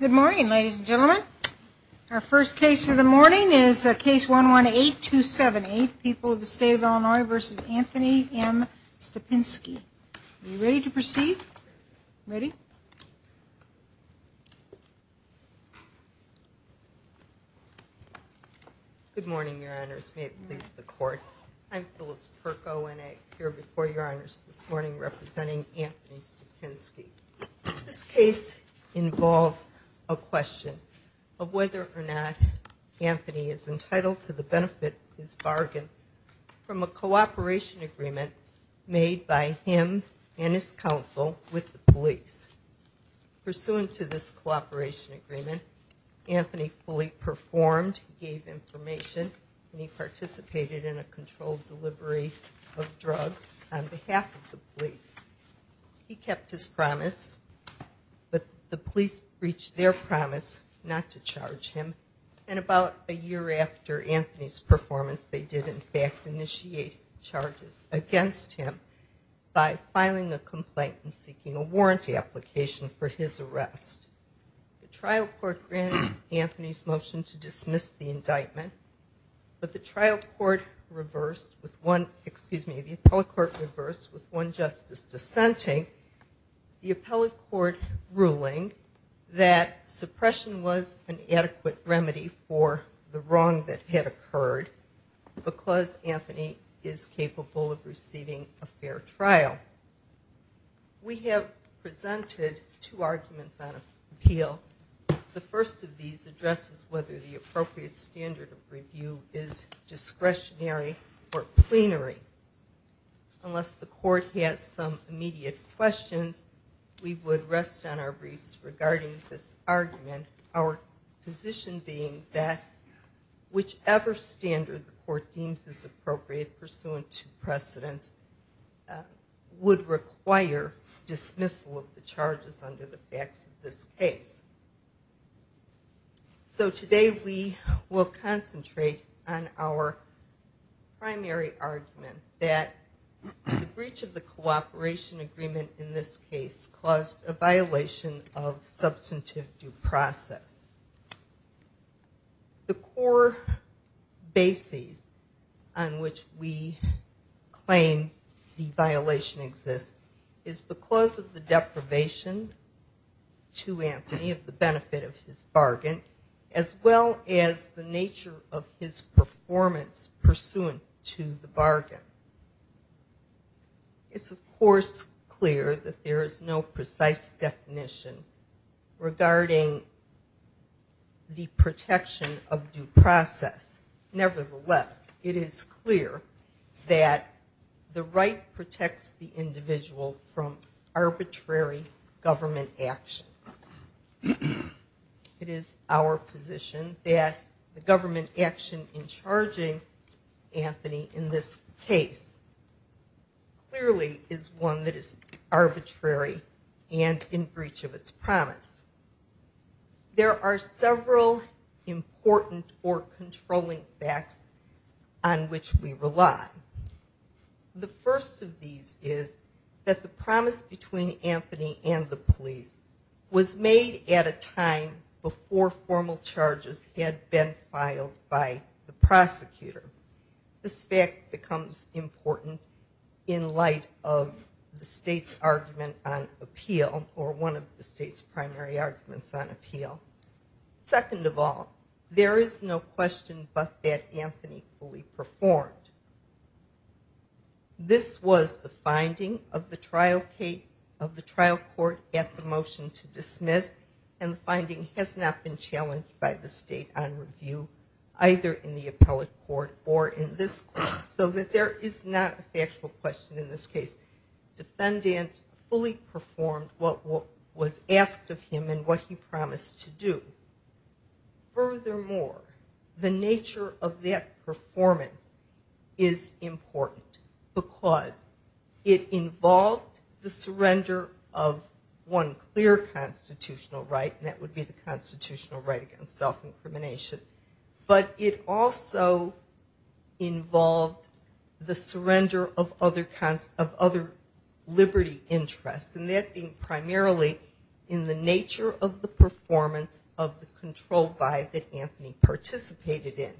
Good morning, ladies and gentlemen. Our first case of the morning is case 118278, People of the State of Illinois v. Anthony M. Stapinski. Are you ready to proceed? Ready? Good morning, Your Honors. May it please the Court, I'm Phyllis Perko and I appear before Your Honors this morning representing Anthony Stapinski. This case involves a question of whether or not Anthony is entitled to the benefit of his bargain from a cooperation agreement made by him and his counsel with the police. Pursuant to this cooperation agreement, Anthony fully performed, gave information, and he participated in a controlled delivery of drugs on behalf of the police. He kept his promise, but the police breached their promise not to charge him, and about a year after Anthony's performance, they did in fact initiate charges against him by filing a complaint and seeking a warrant application. The trial court granted Anthony's motion to dismiss the indictment, but the trial court reversed with one, excuse me, the appellate court reversed with one justice dissenting the appellate court ruling that suppression was an adequate remedy for the wrong that had occurred because Anthony is capable of receiving a fair trial. We have presented two arguments on appeal. The first of these addresses whether the appropriate standard of review is discretionary or plenary. Unless the court has some immediate questions, we would rest on our briefs regarding this argument, our position being that whichever standard the court deems is appropriate pursuant to precedence, it is appropriate. It would require dismissal of the charges under the facts of this case. So today we will concentrate on our primary argument that the breach of the cooperation agreement in this case caused a violation of substantive due process. The core basis on which we claim the violation exists is because of the deprivation to Anthony of the benefit of his bargain, as well as the nature of his performance pursuant to the bargain. It's of course clear that there is no precise definition regarding the protection of due process. Nevertheless, it is clear that the right protects the individual from arbitrary government action. It is our position that the government action in charging Anthony in this case clearly is one that is arbitrary and in breach of its promise. There are several important or controlling facts on which we rely. The first of these is that the promise between Anthony and the police was made at a time before formal charges had been filed by the prosecutor. This fact becomes important in light of the state's argument on appeal, or one of the state's primary arguments on appeal. Second of all, there is no question but that Anthony fully performed. This was the finding of the trial court at the motion to dismiss, and the finding has not been challenged by the state on review, either in the appellate court or in this court, so that there is not a factual question in this case. The defendant fully performed what was asked of him and what he promised to do. Furthermore, the nature of that performance is important because it involved the surrender of one clear constitutional right, and that would be the constitutional right against self-incrimination, but it also involved the surrender of other liberty interests, and that being primarily in the nature of the performance of the controlled by that Anthony participated in.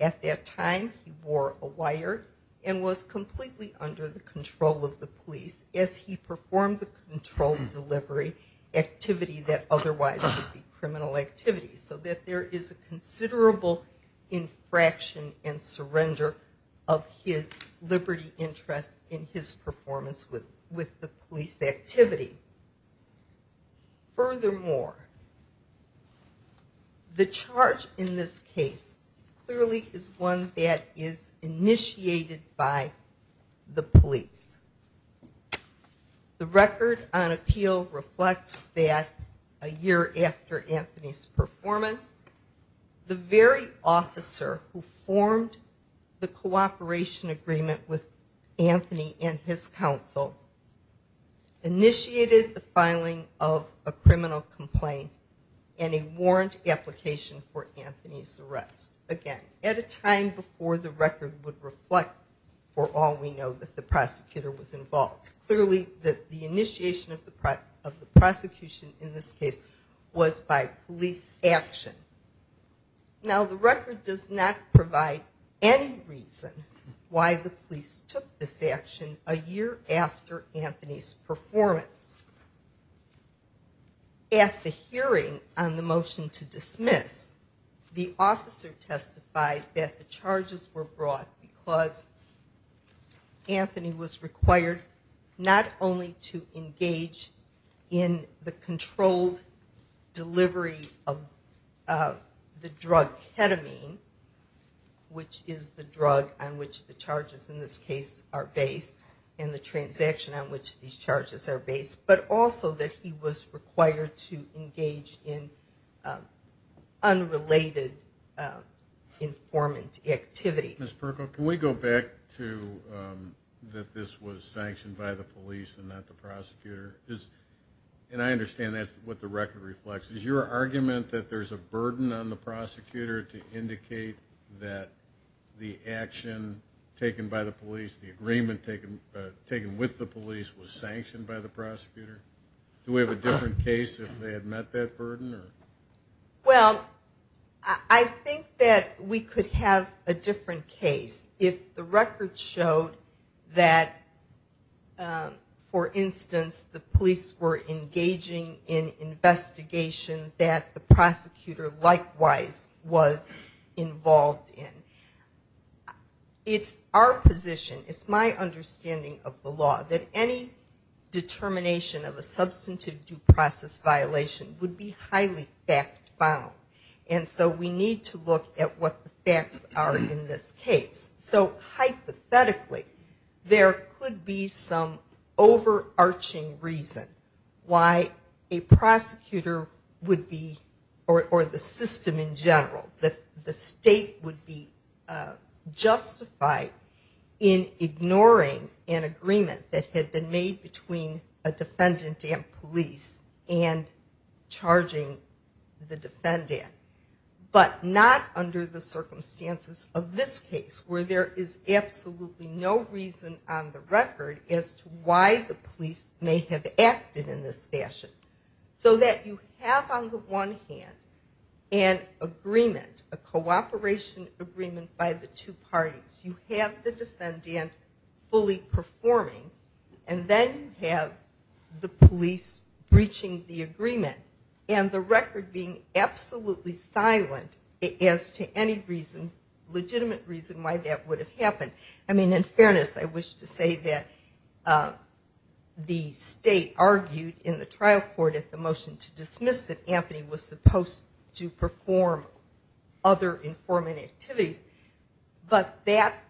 At that time, he wore a wire and was completely under the control of the police as he performed the controlled delivery activity that otherwise would be criminal activity, so that there is a considerable infraction and surrender of his liberty interests in his performance with the police activity. Furthermore, the charge in this case clearly is one that is initiated by the police. The record on appeal reflects that a year after Anthony's performance, the very officer who formed the cooperation agreement with Anthony and his counsel, initiated the filing of a criminal complaint and a warrant application for Anthony's arrest, again, at a time before the record would reflect, for all we know, that the prosecutor was involved. Clearly, the initiation of the prosecution in this case was by police action. Now, the record does not provide any reason why the police took this action a year after Anthony's performance. At the hearing on the motion to dismiss, the officer testified that the charges were brought because Anthony was required not only to engage in the controlled delivery of the drug ketamine, which is the drug on which the charges in this case are based, and the transaction on which these charges are based, but also that he was required to engage in unrelated informant activity. Ms. Perko, can we go back to that this was sanctioned by the police and not the prosecutor? And I understand that's what the record reflects. Is your argument that there's a burden on the prosecutor to indicate that the action taken by the police, the agreement taken with the police, was sanctioned by the prosecutor? Do we have a different case if they had met that burden? Well, I think that we could have a different case if the record showed that, for instance, the police were engaging in investigation that the prosecutor likewise was involved in. It's our position, it's my understanding of the law, that any determination of a substantive due process violation would be highly unconstitutional. It would be highly fact-bound. And so we need to look at what the facts are in this case. So hypothetically, there could be some overarching reason why a prosecutor would be, or the system in general, that the state would be justified in ignoring an agreement that had been made between a defendant and police and charging the defendant. But not under the circumstances of this case, where there is absolutely no reason on the record as to why the police may have acted in this fashion. So that you have, on the one hand, an agreement, a cooperation agreement by the two parties. You have the defendant fully performing, and then you have the police breaching the agreement. And the record being absolutely silent as to any reason, legitimate reason, why that would have happened. I mean, in fairness, I wish to say that the state argued in the trial court at the motion to dismiss that Anthony was supposed to perform other informant activities. But that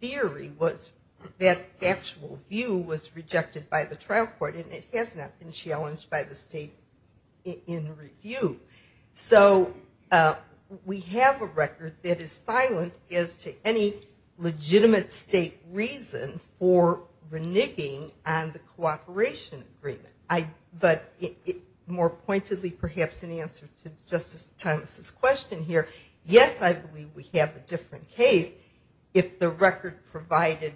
theory was, that actual view was rejected by the trial court and it has not been challenged by the state in review. So, we have a record that is silent as to any legitimate state reason for reneging on the cooperation agreement. But, more pointedly, perhaps in answer to Justice Thomas' question here, yes, I believe we have a record that is silent. We have a different case if the record provided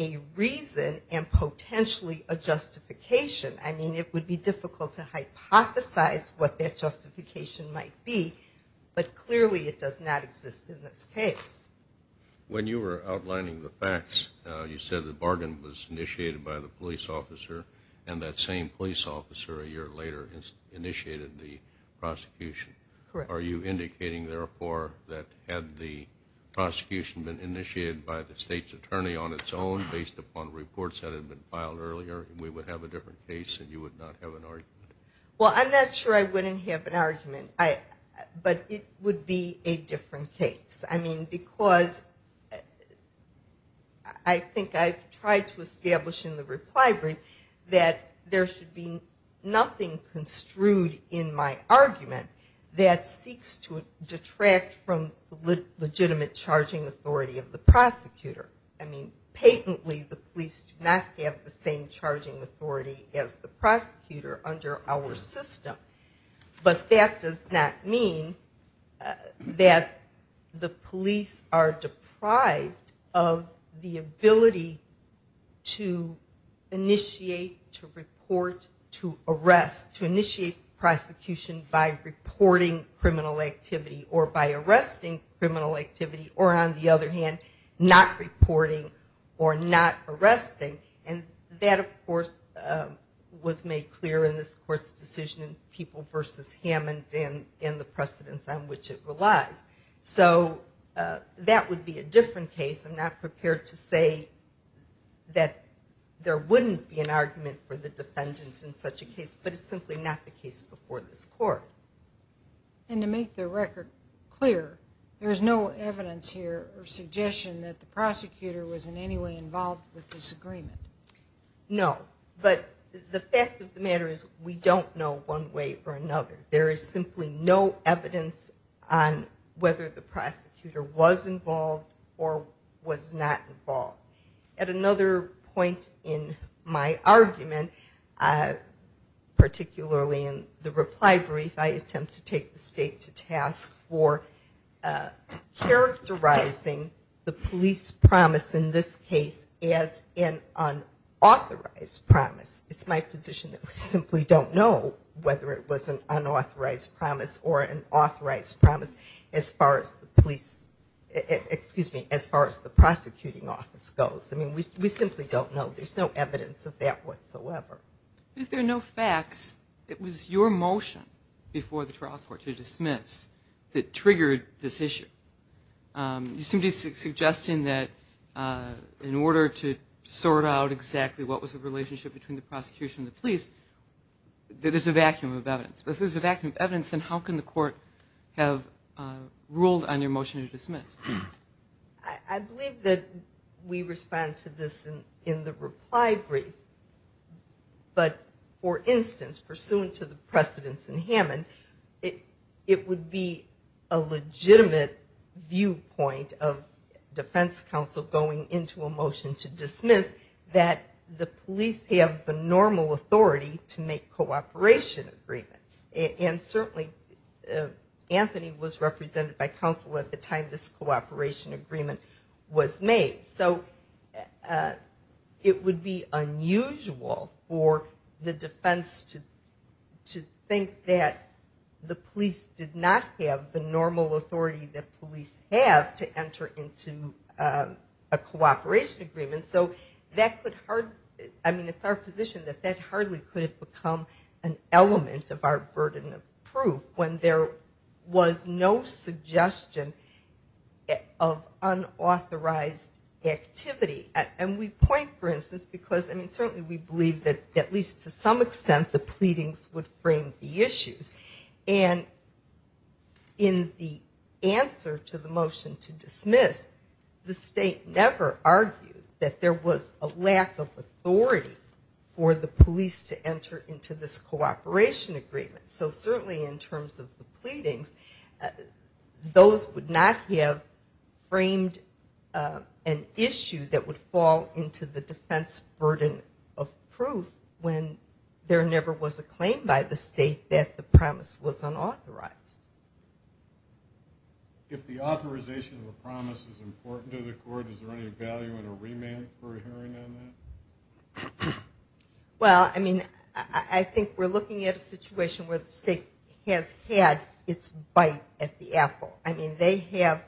a reason and potentially a justification. I mean, it would be difficult to hypothesize what that justification might be, but clearly it does not exist in this case. When you were outlining the facts, you said the bargain was initiated by the police officer and that same police officer a year later initiated the prosecution. Correct. Are you indicating, therefore, that had the prosecution been initiated by the state's attorney on its own, based upon reports that had been filed earlier, we would have a different case and you would not have an argument? Well, I'm not sure I wouldn't have an argument, but it would be a different case. I mean, because I think I've tried to establish in the reply brief that there should be nothing construed in my argument that seeks to detract from the legitimate charging authority of the prosecutor. I mean, patently the police do not have the same charging authority as the prosecutor under our system. But that does not mean that the police are deprived of the ability to initiate, to report, to arrest, to initiate prosecution by reporting criminal activity or by arresting criminal activity or, on the other hand, not reporting criminal activity. And that, of course, was made clear in this Court's decision in People v. Hammond and in the precedence on which it relies. So that would be a different case. I'm not prepared to say that there wouldn't be an argument for the defendant in such a case, but it's simply not the case before this Court. And to make the record clear, there is no evidence here or suggestion that the prosecutor was in any way involved with this agreement? No. But the fact of the matter is we don't know one way or another. There is simply no evidence on whether the prosecutor was involved or was not involved. At another point in my argument, particularly in the reply brief, I attempt to take the State to task for characterizing the police promise in this case as an unauthorized promise. It's my position that we simply don't know whether it was an unauthorized promise or an authorized promise as far as the prosecuting office goes. I mean, we simply don't know. There's no evidence of that whatsoever. If there are no facts, it was your motion before the trial court to dismiss that triggered this issue. You seem to be suggesting that in order to sort out exactly what was the relationship between the prosecution and the police, that there's a vacuum of evidence. If there's a vacuum of evidence, then how can the court have ruled on your motion to dismiss? I believe that we respond to this in the reply brief. But, for instance, pursuant to the precedents in Hammond, it would be a legitimate viewpoint of defense counsel going into a motion to dismiss that the police have the normal authority to make cooperation agreements. And certainly, Anthony was represented by counsel at the time this cooperation agreement was made. So, it would be unusual for the defense to think that the police did not have the normal authority that police have to enter into a cooperation agreement. I mean, it's our position that that hardly could have become an element of our burden of proof when there was no suggestion of unauthorized activity. And we point, for instance, because certainly we believe that at least to some extent the pleadings would frame the issues. And in the answer to the motion to dismiss, the state never argued that there was a lack of authority for the police to enter into this cooperation agreement. So, certainly in terms of the pleadings, those would not have framed an issue that would fall into the defense burden of proof when there never was a claim by the state that the promise was unauthorized. If the authorization of a promise is important to the court, is there any value in a remand for adhering on that? Well, I mean, I think we're looking at a situation where the state has had its bite at the apple. I mean, they have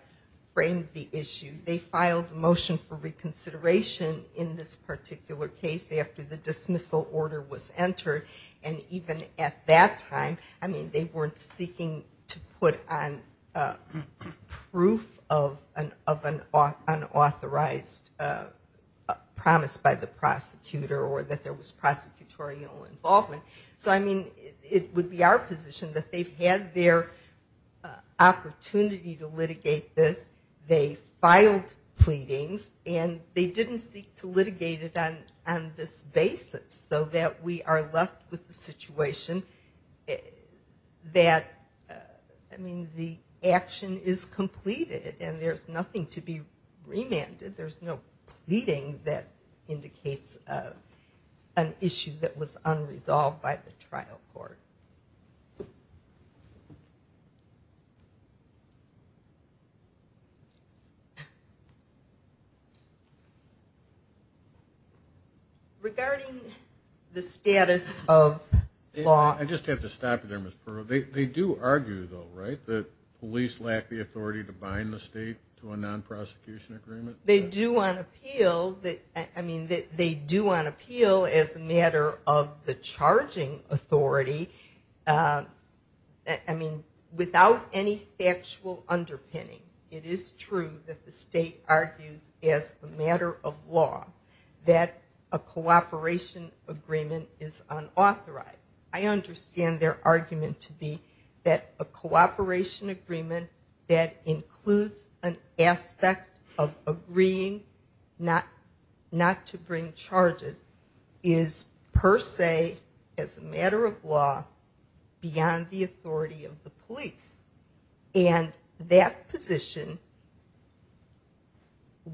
framed the issue. They filed a motion for reconsideration in this particular case after the dismissal order was entered. And even at that time, I mean, they weren't seeking to put on proof of an unauthorized promise by the prosecutor or that there was prosecutorial involvement. So, I mean, it would be our position that they've had their opportunity to litigate this. They filed pleadings. And they didn't seek to litigate it on this basis so that we are left with the situation that, I mean, the action is completed and there's nothing to be remanded. There's no pleading that indicates an issue that was unresolved by the trial court. Regarding the status of law... I just have to stop you there, Ms. Pearl. They do argue, though, right, that police lack the authority to bind the state to a non-prosecution agreement? They do on appeal. I mean, they do on appeal as a matter of the charging authority. I mean, without any factual underpinning, it is true that the state argues as a matter of law that a cooperation agreement is unauthorized. I understand their argument to be that a cooperation agreement that includes an aspect of agreeing not to bring charges is per se, as a matter of law, beyond the authority of the police. And that position,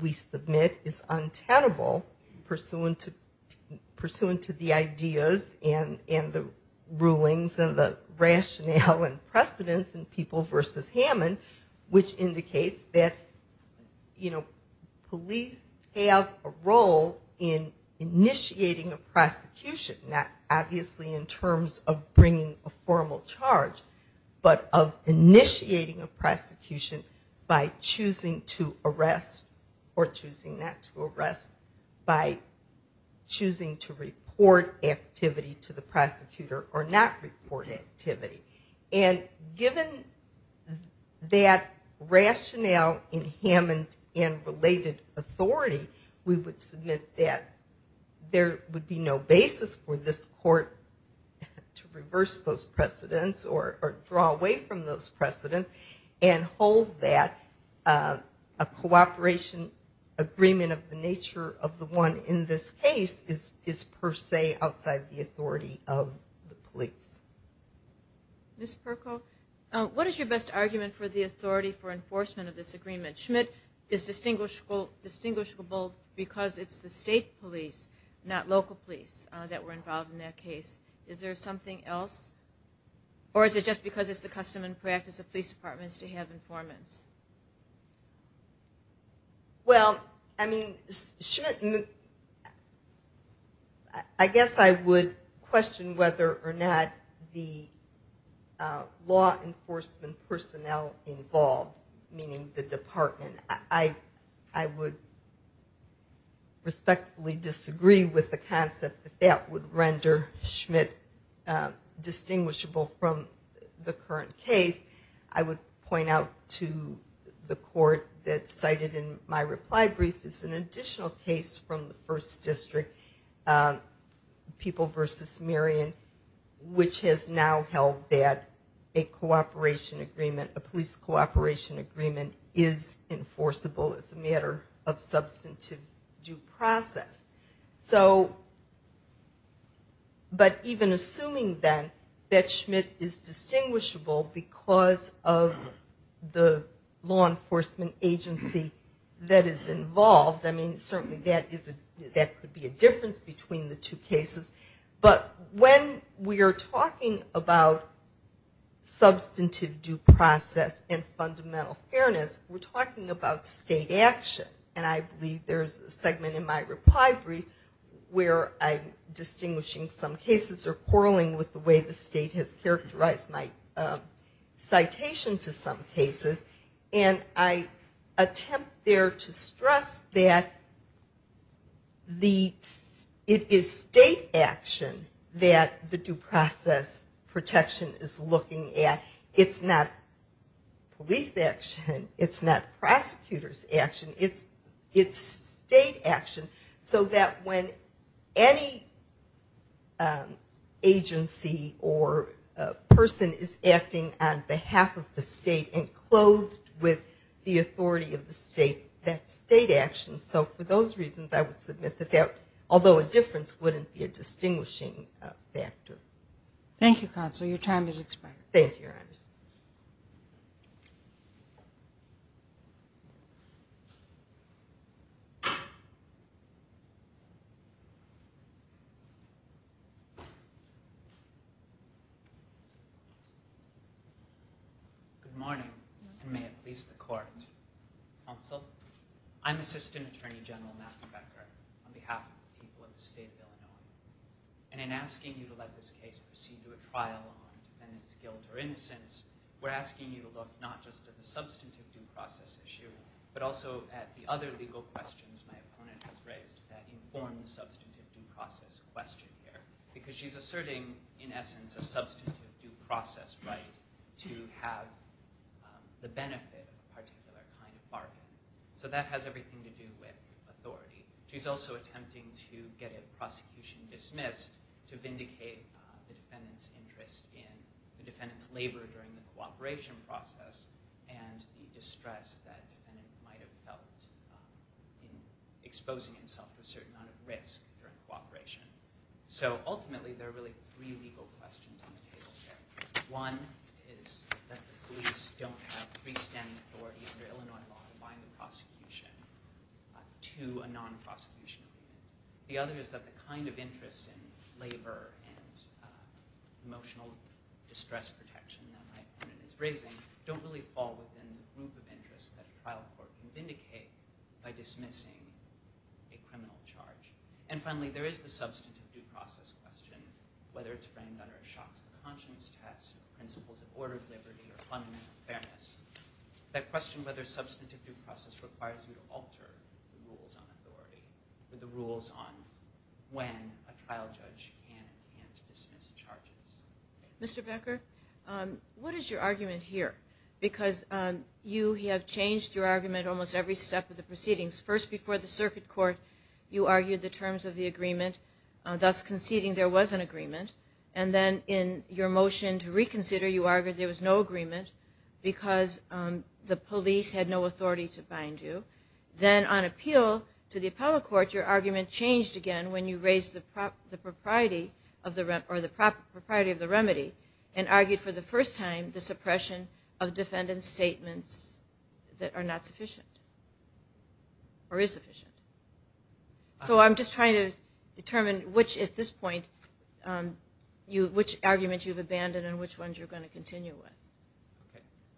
we submit, is untenable pursuant to the ideas and the rulings and the rationale and precedence in People v. Hammond, which indicates that police have a role in initiating a prosecution, not obviously in terms of bringing a formal charge, but of initiating a prosecution by choosing to arrest or choosing not to arrest, by choosing to report activity to the prosecutor or not report activity. And given that rationale in Hammond and related authority, we would submit that there would be no basis for this court to reverse those precedents or draw away from those precedents and hold that a cooperation agreement of the nature of the one in this case is per se outside the authority of the police. Ms. Perko, what is your best argument for the authority for enforcement of this agreement? Schmidt is distinguishable because it's the state police, not local police, that were involved in that case. Is there something else? Or is it just because it's the custom and practice of police departments to have informants? Well, I mean, Schmidt, I guess I would question whether or not the law enforcement personnel involved, meaning the department, I would respectfully disagree with the concept that that would render Schmidt distinguishable from the current case. I would point out to the court that cited in my reply brief is an additional case from the 1st District, People v. Marion, which has now held that a police cooperation agreement is enforceable as a matter of substantive due process. But even assuming then that Schmidt is distinguishable because of the law enforcement agency that is involved, I mean, certainly that could be a difference between the two cases. But when we are talking about substantive due process and fundamental fairness, we're talking about state action. And I believe there's a segment in my reply brief where I'm distinguishing some cases or quarreling with the way the state has characterized my citation to some cases. And I attempt there to stress that it is state action that the due process protection is looking at. It's not police action. It's not prosecutor's action. It's state action. So that when any agency or person is acting on behalf of the state and clothed with the authority of the state, that's state action. So for those reasons, I would submit that that, although a difference, wouldn't be a distinguishing factor. Thank you, Counselor. Your time is expired. Thank you, Your Honors. Good morning, and may it please the Court. Counsel, I'm Assistant Attorney General Matthew Becker on behalf of the people of the state of Illinois. And in asking you to let this case proceed to a trial on defendant's guilt or innocence, we're asking you to look not just at the substantive due process issue, but also at the other legal questions my opponent has raised that inform the substantive due process question here. Because she's asserting, in essence, a substantive due process right to have the benefit of a particular kind of bargain. So that has everything to do with authority. She's also attempting to get a prosecution dismissed to vindicate the defendant's interest in the defendant's labor during the cooperation process and the distress that the defendant might have felt in exposing himself to a certain amount of risk during cooperation. Ultimately, there are really three legal questions on the table here. One is that the police don't have freestanding authority under Illinois law to bind the prosecution to a non-prosecution. The other is that the kind of interests in labor and emotional distress protection that my opponent is raising don't really fall within the group of interests that a trial court can vindicate by dismissing a criminal charge. And finally, there is the substantive due process question, whether it's framed under a shocks to conscience test, principles of order, liberty, or fundamental fairness. That question whether substantive due process requires you to alter the rules on authority or the rules on when a trial judge can and can't dismiss charges. Mr. Becker, what is your argument here? Because you have changed your argument almost every step of the proceedings. First, before the circuit court, you argued the terms of the agreement, thus conceding there was an agreement. And then in your motion to reconsider, you argued there was no agreement because the police had no authority to bind you. Then on appeal to the appellate court, your argument changed again when you raised the propriety of the remedy and argued for the first time the suppression of defendant's statements that are not sufficient or is sufficient. So I'm just trying to determine which, at this point, which arguments you've abandoned and which ones you're going to continue with.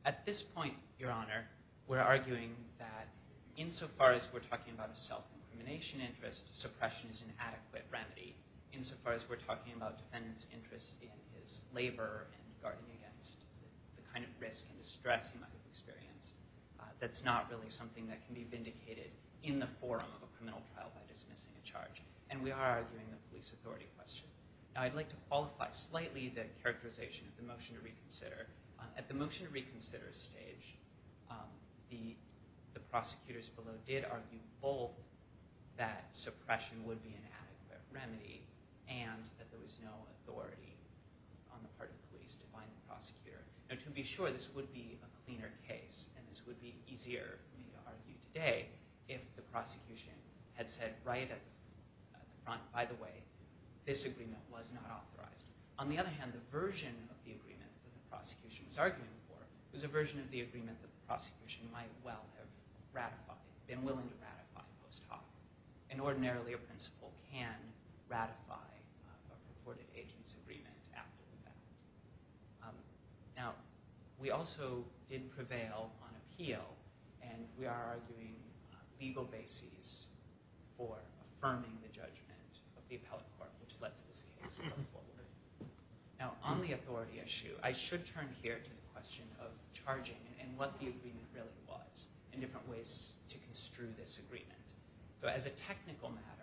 At this point, Your Honor, we're arguing that insofar as we're talking about a self-incrimination interest, suppression is an adequate remedy. Insofar as we're talking about defendant's interest in his labor and guarding against the kind of risk and distress he might have experienced, that's not really something that can be vindicated in the forum of a criminal trial by dismissing a charge. And we are arguing the police authority question. Now I'd like to qualify slightly the characterization of the motion to reconsider. At the motion to reconsider stage, the prosecutors below did argue both that suppression would be an adequate remedy and that there was no authority on the part of police to bind the prosecutor. Now to be sure, this would be a cleaner case and this would be easier for me to argue today if the prosecution had said right at the front, by the way, this agreement was not authorized. On the other hand, the version of the agreement that the prosecution was arguing for was a version of the agreement that the prosecution might well have ratified, been willing to ratify post hoc. And ordinarily a principal can ratify a purported agent's agreement after the fact. Now we also did prevail on appeal and we are arguing legal bases for affirming the judgment of the appellate court which lets this case go forward. Now on the authority issue, I should turn here to the question of charging and what the agreement really was and different ways to construe this agreement. So as a technical matter,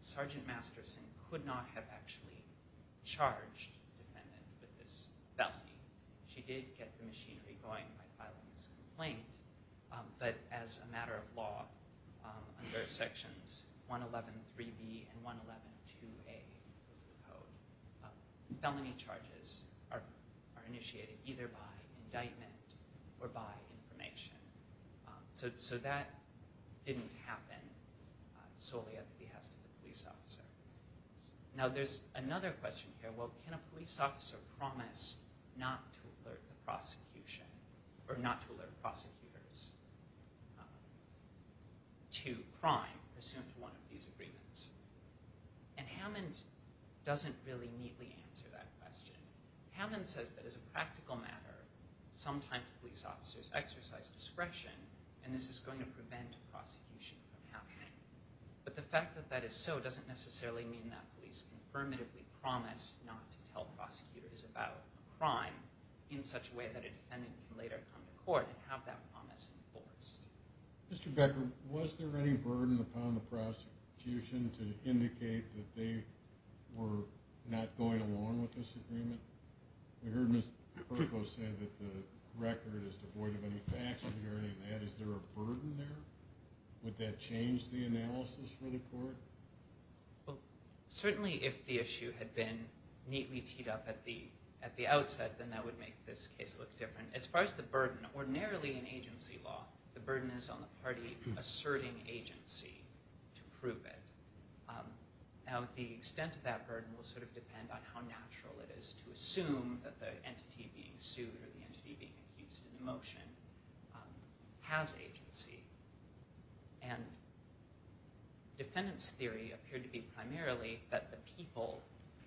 Sergeant Masterson could not have actually charged the defendant with this felony. She did get the machinery going by filing this complaint, but as a matter of law, under sections 111.3b and 111.2a of the code, felony charges are initiated either by indictment or by information. So that didn't happen solely at the behest of the police officer. Now there's another question here, well can a police officer promise not to alert the prosecution or not to alert prosecutors to crime pursuant to one of these agreements? And Hammond doesn't really neatly answer that question. Hammond says that as a practical matter, sometimes police officers exercise discretion and this is going to prevent prosecution from happening. But the fact that that is so doesn't necessarily mean that police can affirmatively promise not to tell prosecutors about a crime in such a way that a defendant can later come to court and have that promise enforced. Mr. Becker, was there any burden upon the prosecution to indicate that they were not going along with this agreement? We heard Ms. Perko say that the record is devoid of any facts regarding that. Is there a burden there? Would that change the analysis for the court? Certainly if the issue had been neatly teed up at the outset, then that would make this case look different. As far as the burden, ordinarily in agency law, the burden is on the party asserting agency to prove it. Now the extent of that burden will sort of depend on how natural it is to assume that the entity being sued or the entity being accused in the motion has agency. And defendant's theory appeared to be primarily that the people,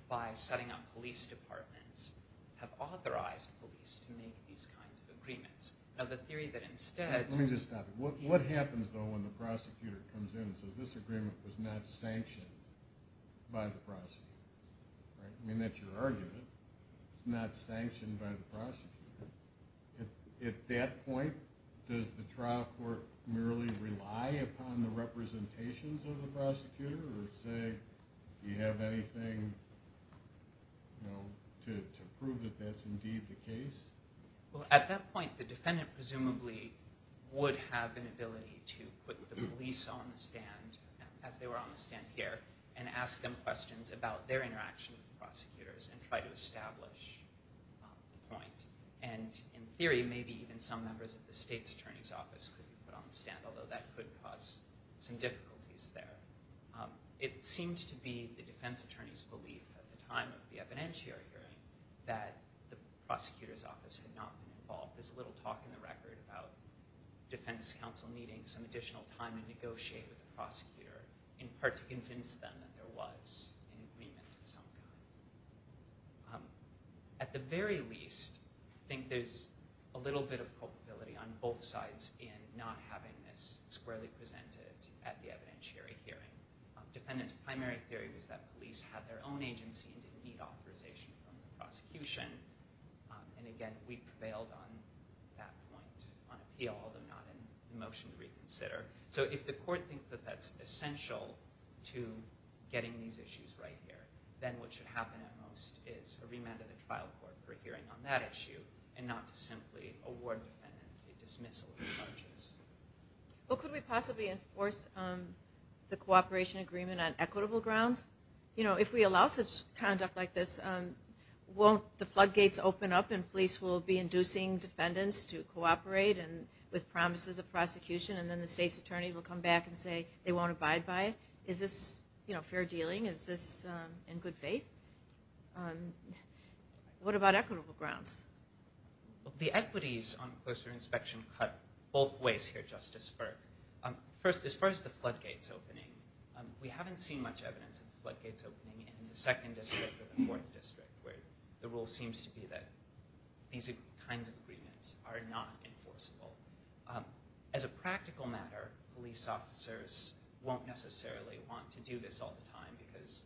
by setting up police departments, have authorized police to make these kinds of agreements. Let me just stop you. What happens though when the prosecutor comes in and says this agreement was not sanctioned by the prosecutor? I mean that's your argument. It's not sanctioned by the prosecutor. At that point, does the trial court merely rely upon the representations of the prosecutor? Or say, do you have anything to prove that that's indeed the case? Well at that point, the defendant presumably would have an ability to put the police on the stand, as they were on the stand here, and ask them questions about their interaction with the prosecutors and try to establish the point. And in theory, maybe even some members of the state's attorney's office could be put on the stand, although that could cause some difficulties there. It seems to be the defense attorney's belief at the time of the evidentiary hearing that the prosecutor's office had not been involved. There's little talk in the record about defense counsel needing some additional time to negotiate with the prosecutor, in part to convince them that there was an agreement of some kind. At the very least, I think there's a little bit of culpability on both sides in not having this squarely presented at the evidentiary hearing. The defendant's primary theory was that police had their own agency and didn't need authorization from the prosecution. And again, we prevailed on that point on appeal, although not in motion to reconsider. So if the court thinks that that's essential to getting these issues right here, then what should happen at most is a remand of the trial court for a hearing on that issue, and not to simply award the defendant a dismissal of the charges. Could we possibly enforce the cooperation agreement on equitable grounds? If we allow such conduct like this, won't the floodgates open up and police will be inducing defendants to cooperate with promises of prosecution, and the police attorney will come back and say they won't abide by it? Is this fair dealing? Is this in good faith? What about equitable grounds? The equities on closer inspection cut both ways here, Justice Berg. As far as the floodgates opening, we haven't seen much evidence of floodgates opening in the 2nd District or the 4th District, where the rule seems to be that these kinds of agreements are not enforceable. As a practical matter, police officers won't necessarily want to do this all the time, because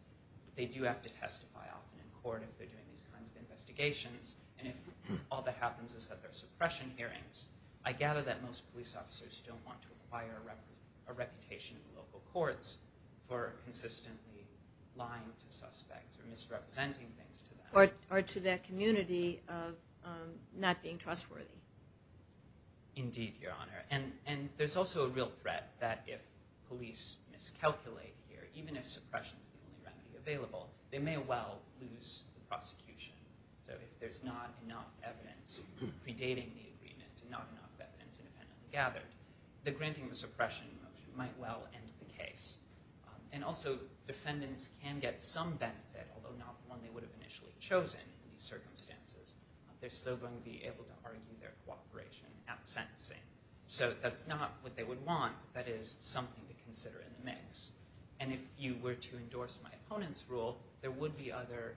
they do have to testify often in court if they're doing these kinds of investigations, and if all that happens is that there are suppression hearings, I gather that most police officers don't want to acquire a reputation in local courts for consistently lying to suspects or misrepresenting things to them. Or to that community of not being trustworthy. Indeed, Your Honor. And there's also a real threat that if police miscalculate here, even if suppression is the only remedy available, they may well lose the prosecution. So if there's not enough evidence predating the agreement and not enough evidence independently gathered, the granting of the suppression motion might well end the case. And also, defendants can get some benefit, although not one they would have initially chosen in these circumstances. They're still going to be able to argue their cooperation at sentencing. So that's not what they would want, but that is something to consider in the mix. And if you were to endorse my opponent's rule, there would be other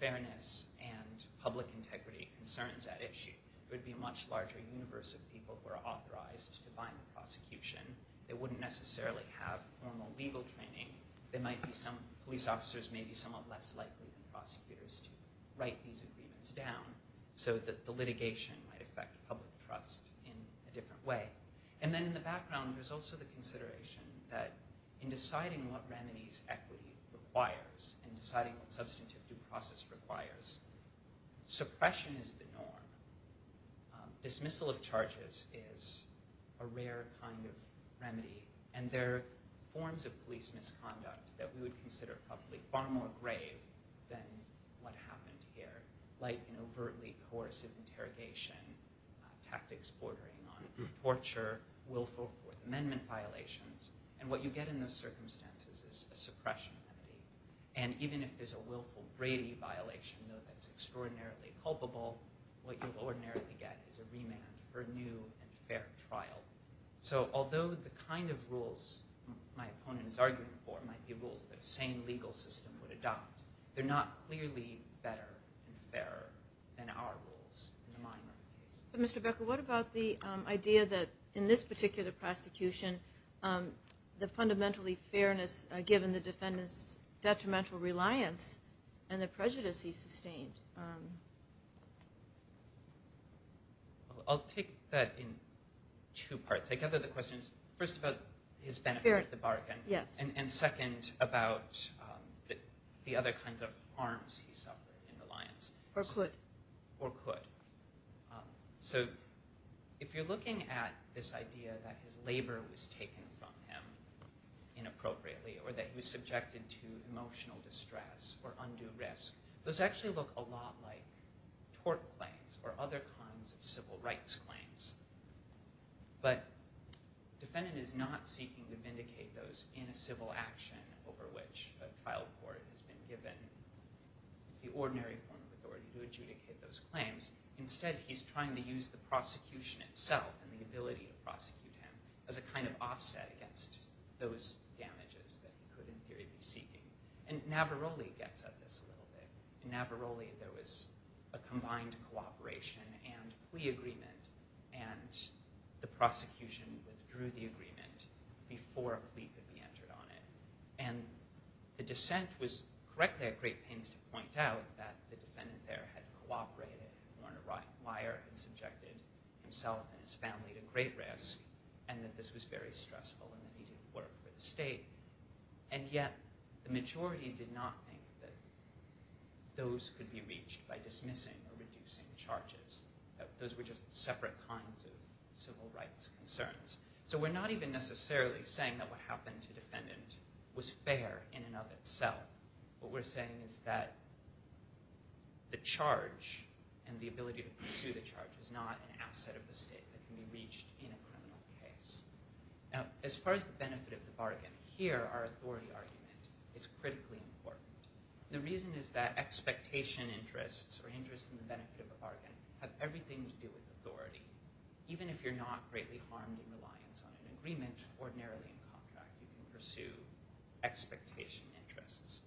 fairness and public integrity concerns at issue. There would be a much larger universe of people who are authorized to define the prosecution. They wouldn't necessarily have formal legal training. Police officers may be somewhat less likely than prosecutors to write these agreements down. So that the litigation might affect public trust in a different way. And then in the background, there's also the consideration that in deciding what remedies equity requires, in deciding what substantive due process requires, suppression is the norm. Dismissal of charges is a rare kind of remedy. And there are forms of police misconduct that we would consider probably far more grave than what happened here. Like an overtly coercive interrogation, tactics bordering on torture, willful Fourth Amendment violations. And what you get in those circumstances is a suppression remedy. And even if there's a willful Brady violation, though that's extraordinarily culpable, what you'll ordinarily get is a remand for a new and fair trial. So although the kind of rules my opponent is arguing for might be rules that the same legal system would adopt, they're not clearly better and fairer than our rules in the mind of the police. But Mr. Becker, what about the idea that in this particular prosecution, the fundamentally fairness given the defendant's detrimental reliance and the prejudice he sustained? I'll take that in two parts. I gather the question is first about his benefit of the bargain, and second about the other kinds of harms he suffered in reliance. Or could. Or could. So if you're looking at this idea that his labor was taken from him inappropriately, or that he was subjected to emotional distress or undue risk, those actually look a lot like tort claims or other kinds of civil rights claims. But the defendant is not seeking to vindicate those in a civil action over which a trial court has been given the ordinary form of authority to adjudicate those claims. Instead, he's trying to use the prosecution itself and the ability to prosecute him as a kind of offset against those damages that he could in theory be seeking. And Navarroli gets at this a little bit. In Navarroli, there was a combined cooperation and plea agreement, and the prosecution withdrew the agreement before a plea could be entered on it. And the dissent was correctly at great pains to point out that the defendant there had cooperated. He weren't a liar and subjected himself and his family to great risk, and that this was very stressful and that he didn't work for the state. And yet, the majority did not think that those could be reached by dismissing or reducing charges. Those were just separate kinds of civil rights concerns. So we're not even necessarily saying that what happened to the defendant was fair in and of itself. What we're saying is that the charge and the ability to pursue the charge is not an asset of the state that can be reached in a criminal case. Now, as far as the benefit of the bargain, here our authority argument is critically important. The reason is that expectation interests or interests in the benefit of a bargain have everything to do with authority. Even if you're not greatly harmed in reliance on an agreement, ordinarily in a contract you can pursue expectation interests.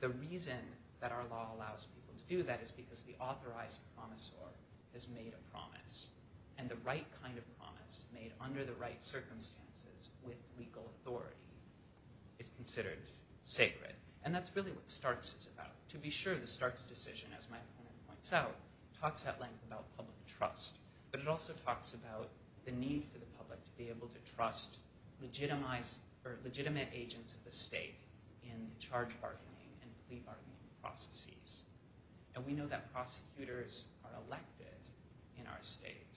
The reason that our law allows people to do that is because the authorized promisor has made a promise. And the right kind of promise, made under the right circumstances with legal authority, is considered sacred. And that's really what Starks is about. To be sure, the Starks decision, as my opponent points out, talks at length about public trust, but it also talks about the need for the public to be able to trust legitimate agents of the state in charge bargaining and plea bargaining processes. And we know that prosecutors are elected in our state,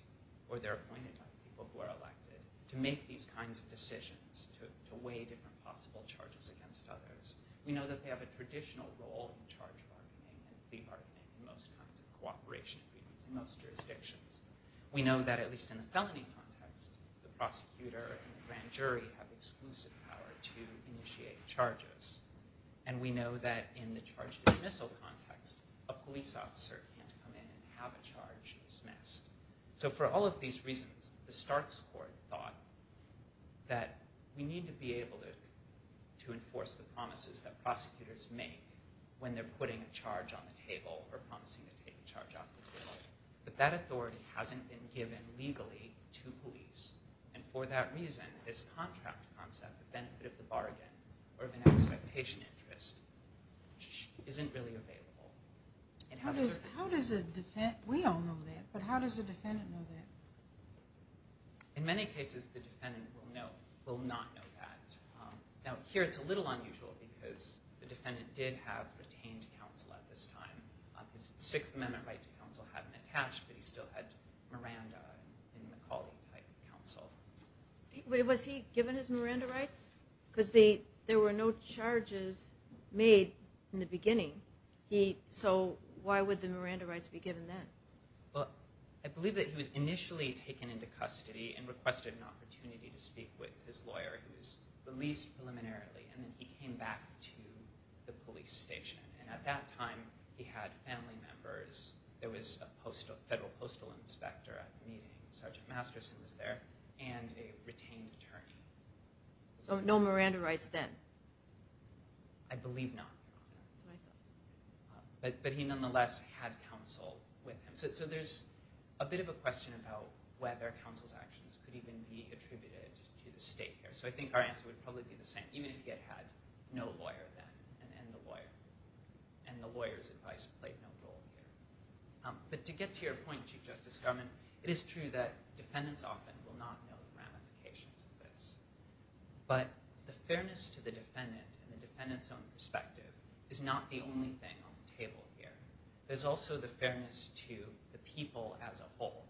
or they're appointed by the people who are elected, to make these kinds of decisions, to weigh different possible charges against others. We know that they have a traditional role in charge bargaining and plea bargaining in most kinds of cooperation agreements in most jurisdictions. We know that, at least in the felony context, the prosecutor and the grand jury have exclusive power to initiate charges. And we know that in the charge dismissal context, a police officer can't come in and have a charge dismissed. So for all of these reasons, the Starks court thought that we need to be able to enforce the promises that prosecutors make when they're putting a charge on the table or promising to take a charge off the table. But that authority hasn't been given legally to police. And for that reason, this contract concept, the benefit of the bargain or of an expectation interest, isn't really available. How does a defendant, we all know that, but how does a defendant know that? In many cases, the defendant will not know that. Now, here it's a little unusual, because the defendant did have retained counsel at this time. His Sixth Amendment right to counsel hadn't attached, but he still had Miranda and McCauley right to counsel. Was he given his Miranda rights? Because there were no charges made in the beginning. So why would the Miranda rights be given then? Well, I believe that he was initially taken into custody and requested an opportunity to speak with his lawyer, who was released preliminarily. And then he came back to the police station. And at that time, he had family members. There was a federal postal inspector at the meeting. Sergeant Masterson was there, and a retained attorney. So no Miranda rights then? I believe not. But he nonetheless had counsel with him. So there's a bit of a question about whether counsel's actions could even be attributed to the state here. So I think our answer would probably be the same, even if he had no lawyer then, and the lawyer's advice played no role here. But to get to your point, Chief Justice Garmon, I think that defendants often will not know the ramifications of this. But the fairness to the defendant and the defendant's own perspective is not the only thing on the table here. There's also the fairness to the people as a whole.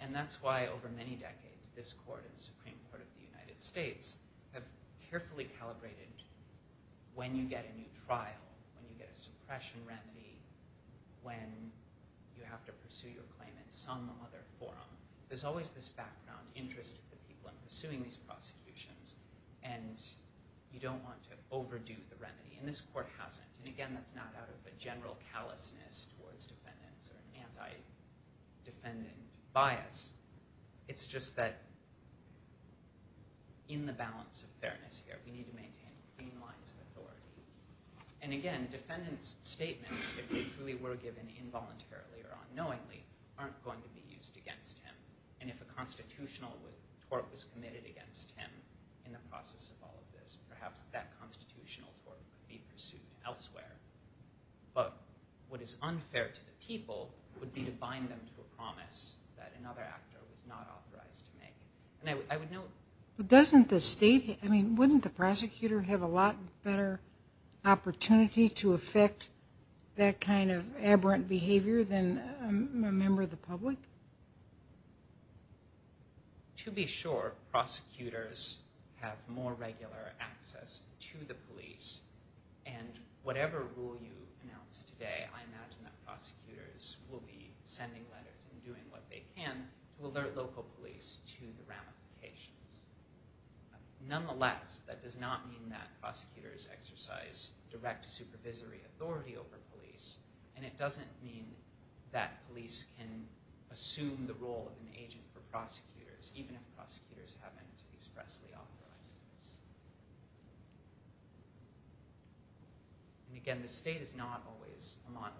And that's why over many decades, this court and the Supreme Court of the United States have carefully calibrated when you get a new trial, when you get a suppression remedy, when you have to pursue your claim in some other forum. There's always this background interest of the people in pursuing these prosecutions, and you don't want to overdo the remedy. And this court hasn't. And again, that's not out of a general callousness towards defendants or an anti-defendant bias. It's just that in the balance of fairness here, we need to maintain clean lines of authority. And again, defendant's statements, if they truly were given involuntarily or unknowingly, aren't going to be used against him. And if a constitutional tort was committed against him in the process of all of this, perhaps that constitutional tort could be pursued elsewhere. But what is unfair to the people would be to bind them to a promise that another actor was not authorized to make. And I would note... Doesn't the state, I mean, wouldn't the prosecutor have a lot better opportunity to affect that kind of aberrant behavior than a member of the public? To be sure, prosecutors have more regular access to the police. And whatever rule you announce today, I imagine that prosecutors will be sending letters and doing what they can to alert local police to the ramifications. Nonetheless, that does not mean that prosecutors exercise direct supervisory authority over police, and it doesn't mean that police can assume the role of an agent for prosecutors, even if prosecutors haven't expressly authorized this. And again, the state is not always a model.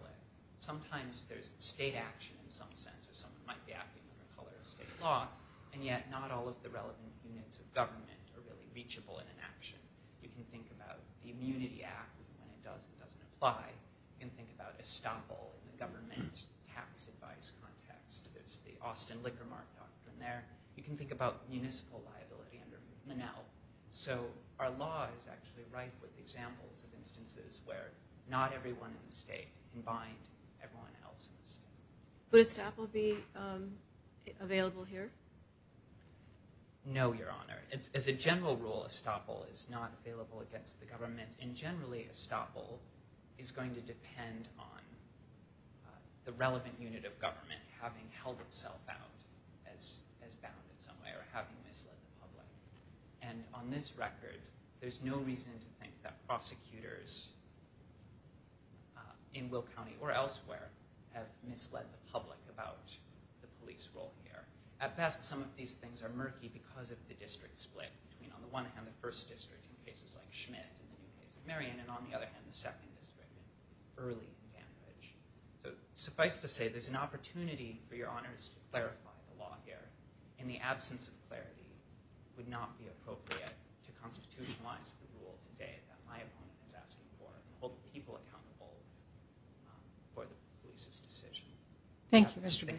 Sometimes there's state action in some sense, or someone might be acting under the color of state law, and yet not all of the relevant units of government are really reachable in an action. You can think about the Immunity Act, and when it does, it doesn't apply. You can think about estoppel, the government tax advice context. There's the Austin Liquor Mart doctrine there. You can think about municipal liability under MNL. So our law is actually right with examples of instances where not everyone in the state can bind everyone else in the state. Would estoppel be available here? No, Your Honor. As a general rule, estoppel is not available against the government, and generally estoppel is going to depend on the relevant unit of government having held itself out as bound in some way, or having misled the public. And on this record, there's no reason to think that prosecutors in Will County or elsewhere have misled the public about the police role here. At best, some of these things are murky because of the district split. On the one hand, the first district in cases like Schmidt and Marion, and on the other hand, the second district in early Cambridge. So suffice to say, there's an opportunity for Your Honors to clarify the law here. In the absence of clarity, it would not be appropriate to constitutionalize the rule today that my opponent is asking for and hold the people accountable for the police's decision. Thank you, Mr. Baker.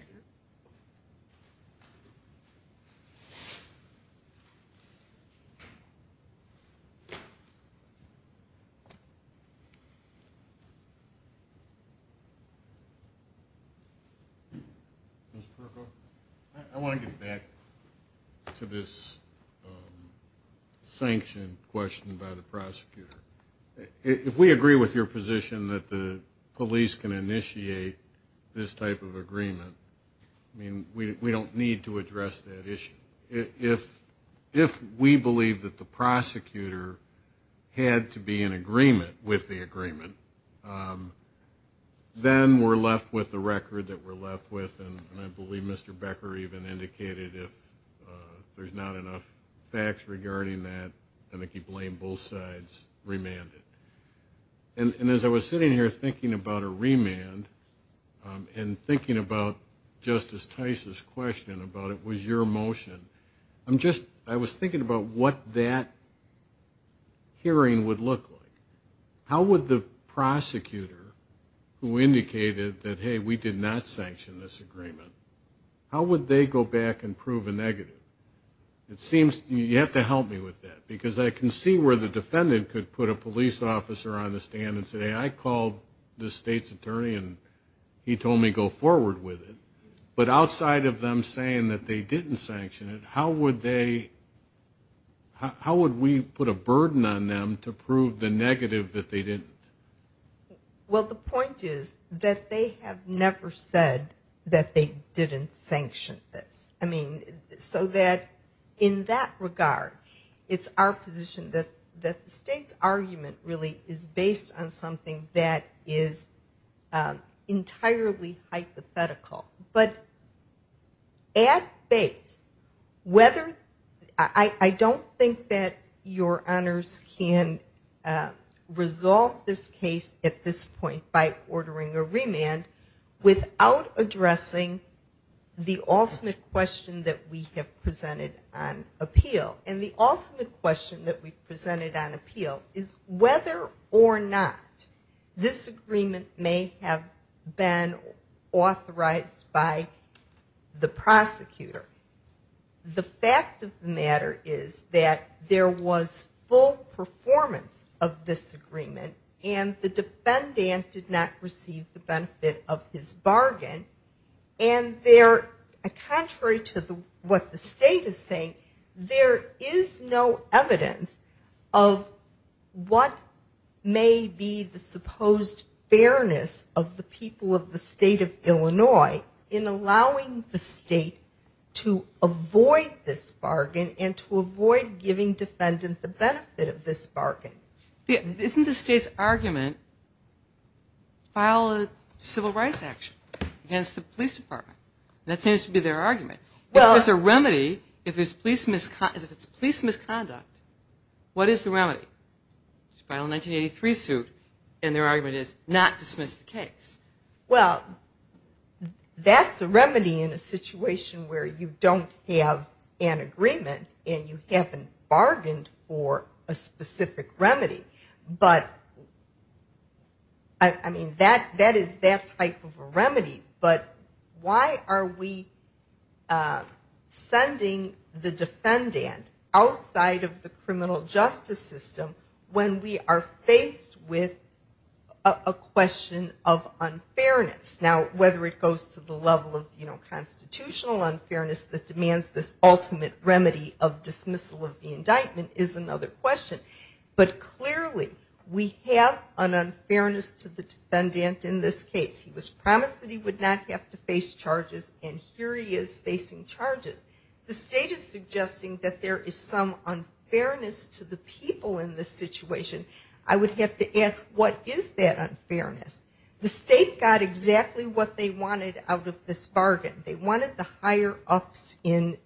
Mr. Perko? I want to get back to this sanction question by the prosecutor. If we agree with your position that the police can initiate this type of agreement, I mean, we don't need to address that issue. If we believe that the prosecutor had to be in agreement with the agreement, then we're left with the record that we're left with, and I believe Mr. Baker even indicated if there's not enough facts regarding that, I think he blamed both sides, remanded. And as I was sitting here thinking about a remand and thinking about Justice Tice's question about it was your motion, I'm just, I was thinking about what that hearing would look like. How would the prosecutor who indicated that, hey, we did not sanction this agreement, how would they go back and prove a negative? It seems, you have to help me with that because I can see where the defendant could put a police officer on the stand and say, hey, I called the state's attorney and he told me go forward with it. But outside of them saying that they didn't sanction it, how would they, how would we put a burden on them to prove the negative that they didn't? Well, the point is that they have never said that they didn't sanction this. I mean, so that in that regard, it's our position that the state's argument really is based on something that is entirely hypothetical. But at base, whether, I don't think that your honors can resolve this case at this point by ordering a remand without addressing the ultimate question that we have presented on appeal. And the ultimate question that we've presented on appeal is whether or not by the prosecutor. The fact of the matter is that there was full performance of this agreement and the defendant did not receive the benefit of his bargain. And there, contrary to what the state is saying, there is no evidence of what may be the supposed fairness of the people of the state of Illinois in allowing the state to avoid this bargain and to avoid giving defendant the benefit of this bargain. Isn't the state's argument file a civil rights action against the police department? That seems to be their argument. If there's a remedy, if it's police misconduct, what is the remedy? File a 1983 suit and their argument is not dismiss the case. Well, that's a remedy in a situation where you don't have an agreement and you haven't bargained for a specific remedy. But, I mean, that is that type of a remedy. But why are we sending the defendant outside of the criminal justice system when we are faced with a question of unfairness? Now, whether it goes to the level of constitutional unfairness that demands this ultimate remedy of dismissal of the indictment is another question. But clearly, we have an unfairness to the defendant in this case. He was promised that he would not have to face charges and here he is facing charges. The state is suggesting that there is some unfairness to the people in this situation. I would have to ask what is that unfairness? The state got exactly what they wanted out of this bargain. They wanted the higher ups in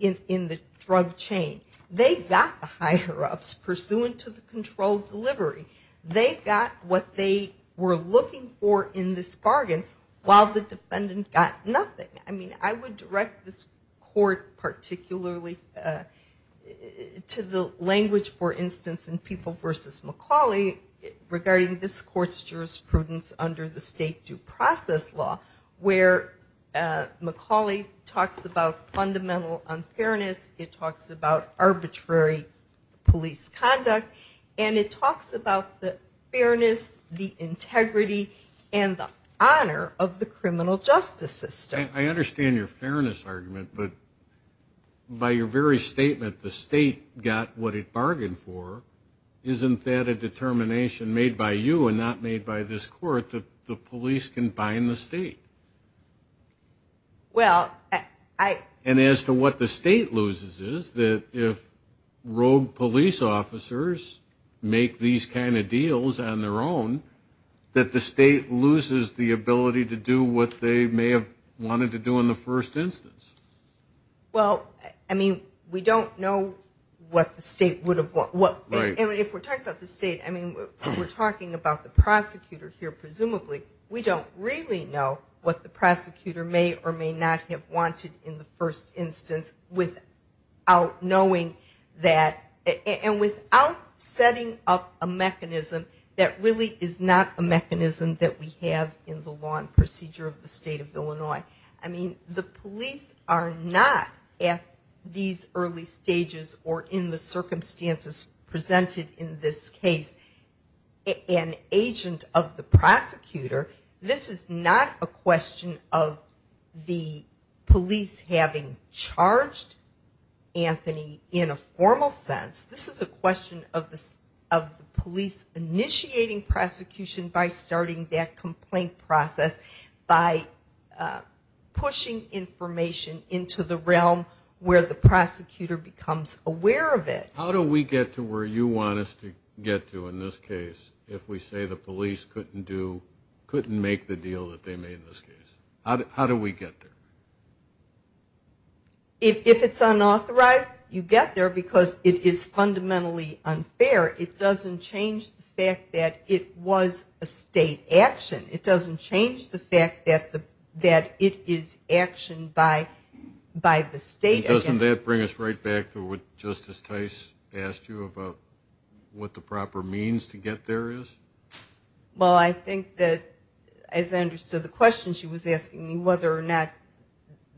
the drug chain. They got the higher ups pursuant to the controlled delivery. They got what they were looking for in this bargain while the defendant got nothing. I mean, I would direct this court particularly to the language, for instance, in People v. McCauley regarding this court's jurisprudence under the state due process law where McCauley talks about fundamental unfairness. It talks about arbitrary police conduct and it talks about the fairness, the integrity and the honor of the criminal justice system. I understand your fairness argument but by your very statement the state got what it bargained for. Isn't that a determination made by you and not made by this court that the police can bind the state? Well, I... And as to what the state loses is that if rogue police officers make these kind of deals on their own that the state loses the ability to do what they may have wanted to do in the first instance. Well, I mean, we don't know what the state would have... Right. And if we're talking about the state, I mean, we're talking about the prosecutor here presumably, we don't really know what the prosecutor may or may not have wanted in the first instance without knowing that... And without setting up a mechanism that really is not a mechanism that we have in the law and procedure of the state of Illinois. I mean, the police are not at these early stages or in the circumstances presented in this case an agent of the prosecutor. This is not a question of the police having charged Anthony in a formal sense. This is a question of the police initiating prosecution by starting that complaint process by pushing information into the realm where the prosecutor becomes aware of it. How do we get to where you want us to get to in this case if we say the police couldn't do, couldn't make the deal that they made in this case? How do we get there? If it's unauthorized, you get there because it is fundamentally unfair. It doesn't change the fact that it was a state action. It doesn't change the fact that it is actioned by the state again. Doesn't that bring us right back to what Justice Tice asked you about what the proper means to get there is? Well, I think that as I understood the question she was asking me whether or not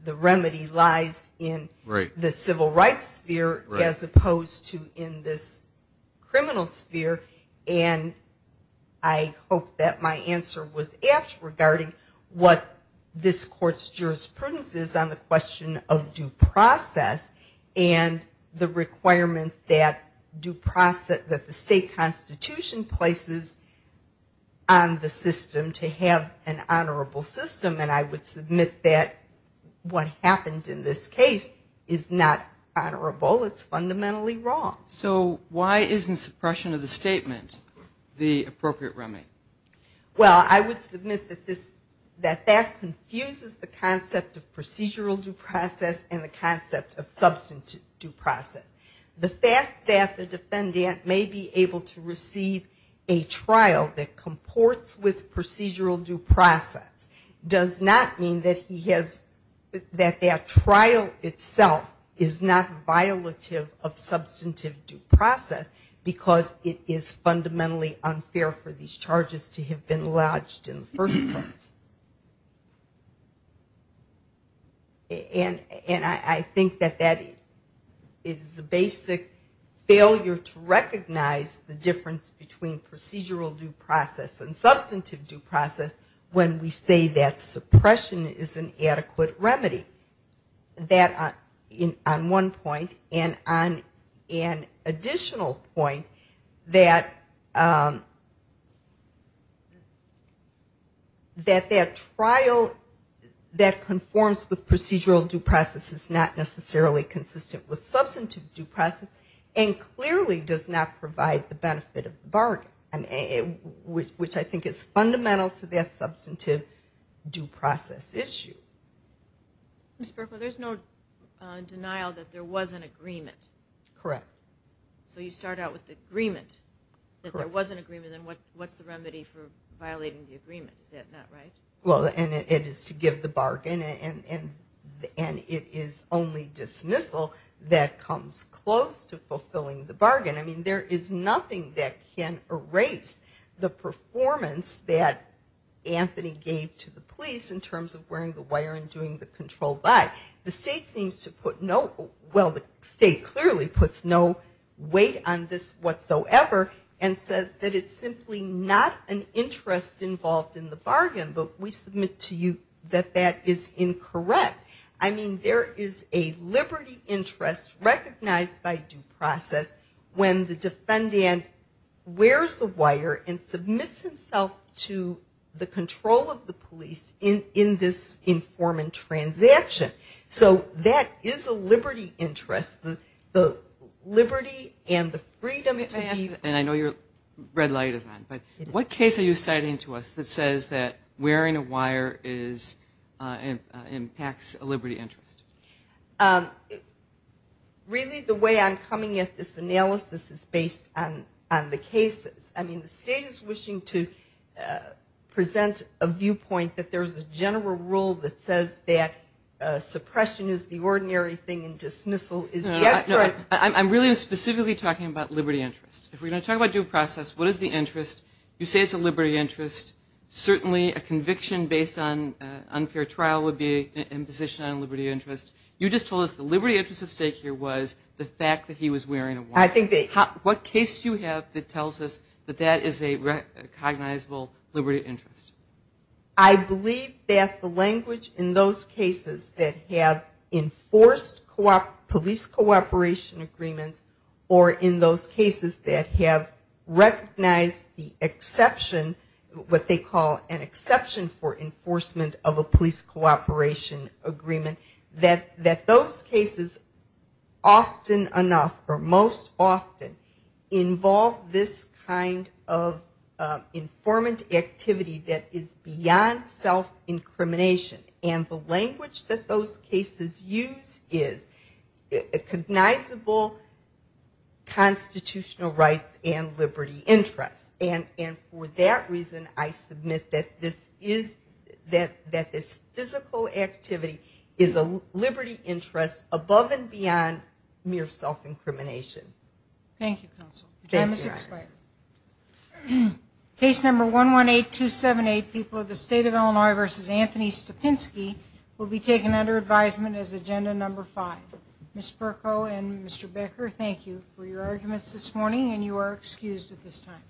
the remedy lies in the civil rights sphere as opposed to in this criminal sphere and I hope that my answer was apt regarding what this court's jurisprudence is on the question of due process and the requirement that the state constitution places on the system to have an honorable system and I would submit that what happened in this case is not honorable. It's fundamentally wrong. So why isn't suppression of the statement the appropriate remedy? Well, I would submit that that confuses the concept of procedural due process and the concept of substantive due process. The fact that the defendant may be able to receive a trial that comports with procedural due process does not mean that he has that that trial itself is not violative of substantive due process because it is fundamentally unfair for these charges to have been lodged in the first place. And I think that that is a basic failure to recognize the difference between procedural due process and substantive due process when we say that suppression is an adequate remedy. That on one point and on an additional point that that trial that conforms with procedural due process is not necessarily consistent with substantive due process and clearly does not provide the benefit of the bargain which I think is fundamental to their substantive due process issue. Ms. Berkowitz, there's no denial that there was an agreement. Correct. So you start out with the agreement that there was an agreement and what's the remedy for violating the agreement? Is that not right? Well, and it is to give the bargain and it is only dismissal that comes close to fulfilling the bargain. I mean, there is a liberty interest recognized by due process when the defendant wears the wire and police in this informant transaction. So that is not an interest involved in the bargain. It is a liberty interest recognized by due police in this informant transaction. So that is a liberty interest. The liberty and the freedom to give. And I know your red light is on, but what case are you citing to us that says that wearing a wire impacts a liberty interest? Really, the way I'm coming at this analysis is based on the cases. I mean, the state is wishing to present a viewpoint that there is a general rule that says that suppression is the ordinary thing and dismissal is the abstract. I'm really specifically talking about liberty interest. If we're going to talk about due process, what is the interest? You say it's a liberty interest. Certainly, a conviction based on unfair trial would be an imposition on liberty interest. You just told us the liberty interest at stake here was the fact that he was wearing a wire. What case do you have that tells us that that is a cognizable liberty interest? I believe that the language in those cases that have enforced police cooperation agreements or in those cases that have recognized the exception, what they call an exception for enforcement of a police cooperation agreement, that those cases, often enough, or most often, involve this kind of informant activity that is beyond self-incrimination. And the language that those cases use is a cognizable constitutional rights and liberty interest. And for that reason, I submit that this physical activity is a liberty interest above and beyond mere self-incrimination. Thank you, counsel. Your time has expired. Case number 118278, People of the State of Illinois v. Anthony Stepinski, will be taken under advisement as agenda number five. Ms. Perko and Mr. Becker, thank you for your arguments this morning, and you are excused at this time.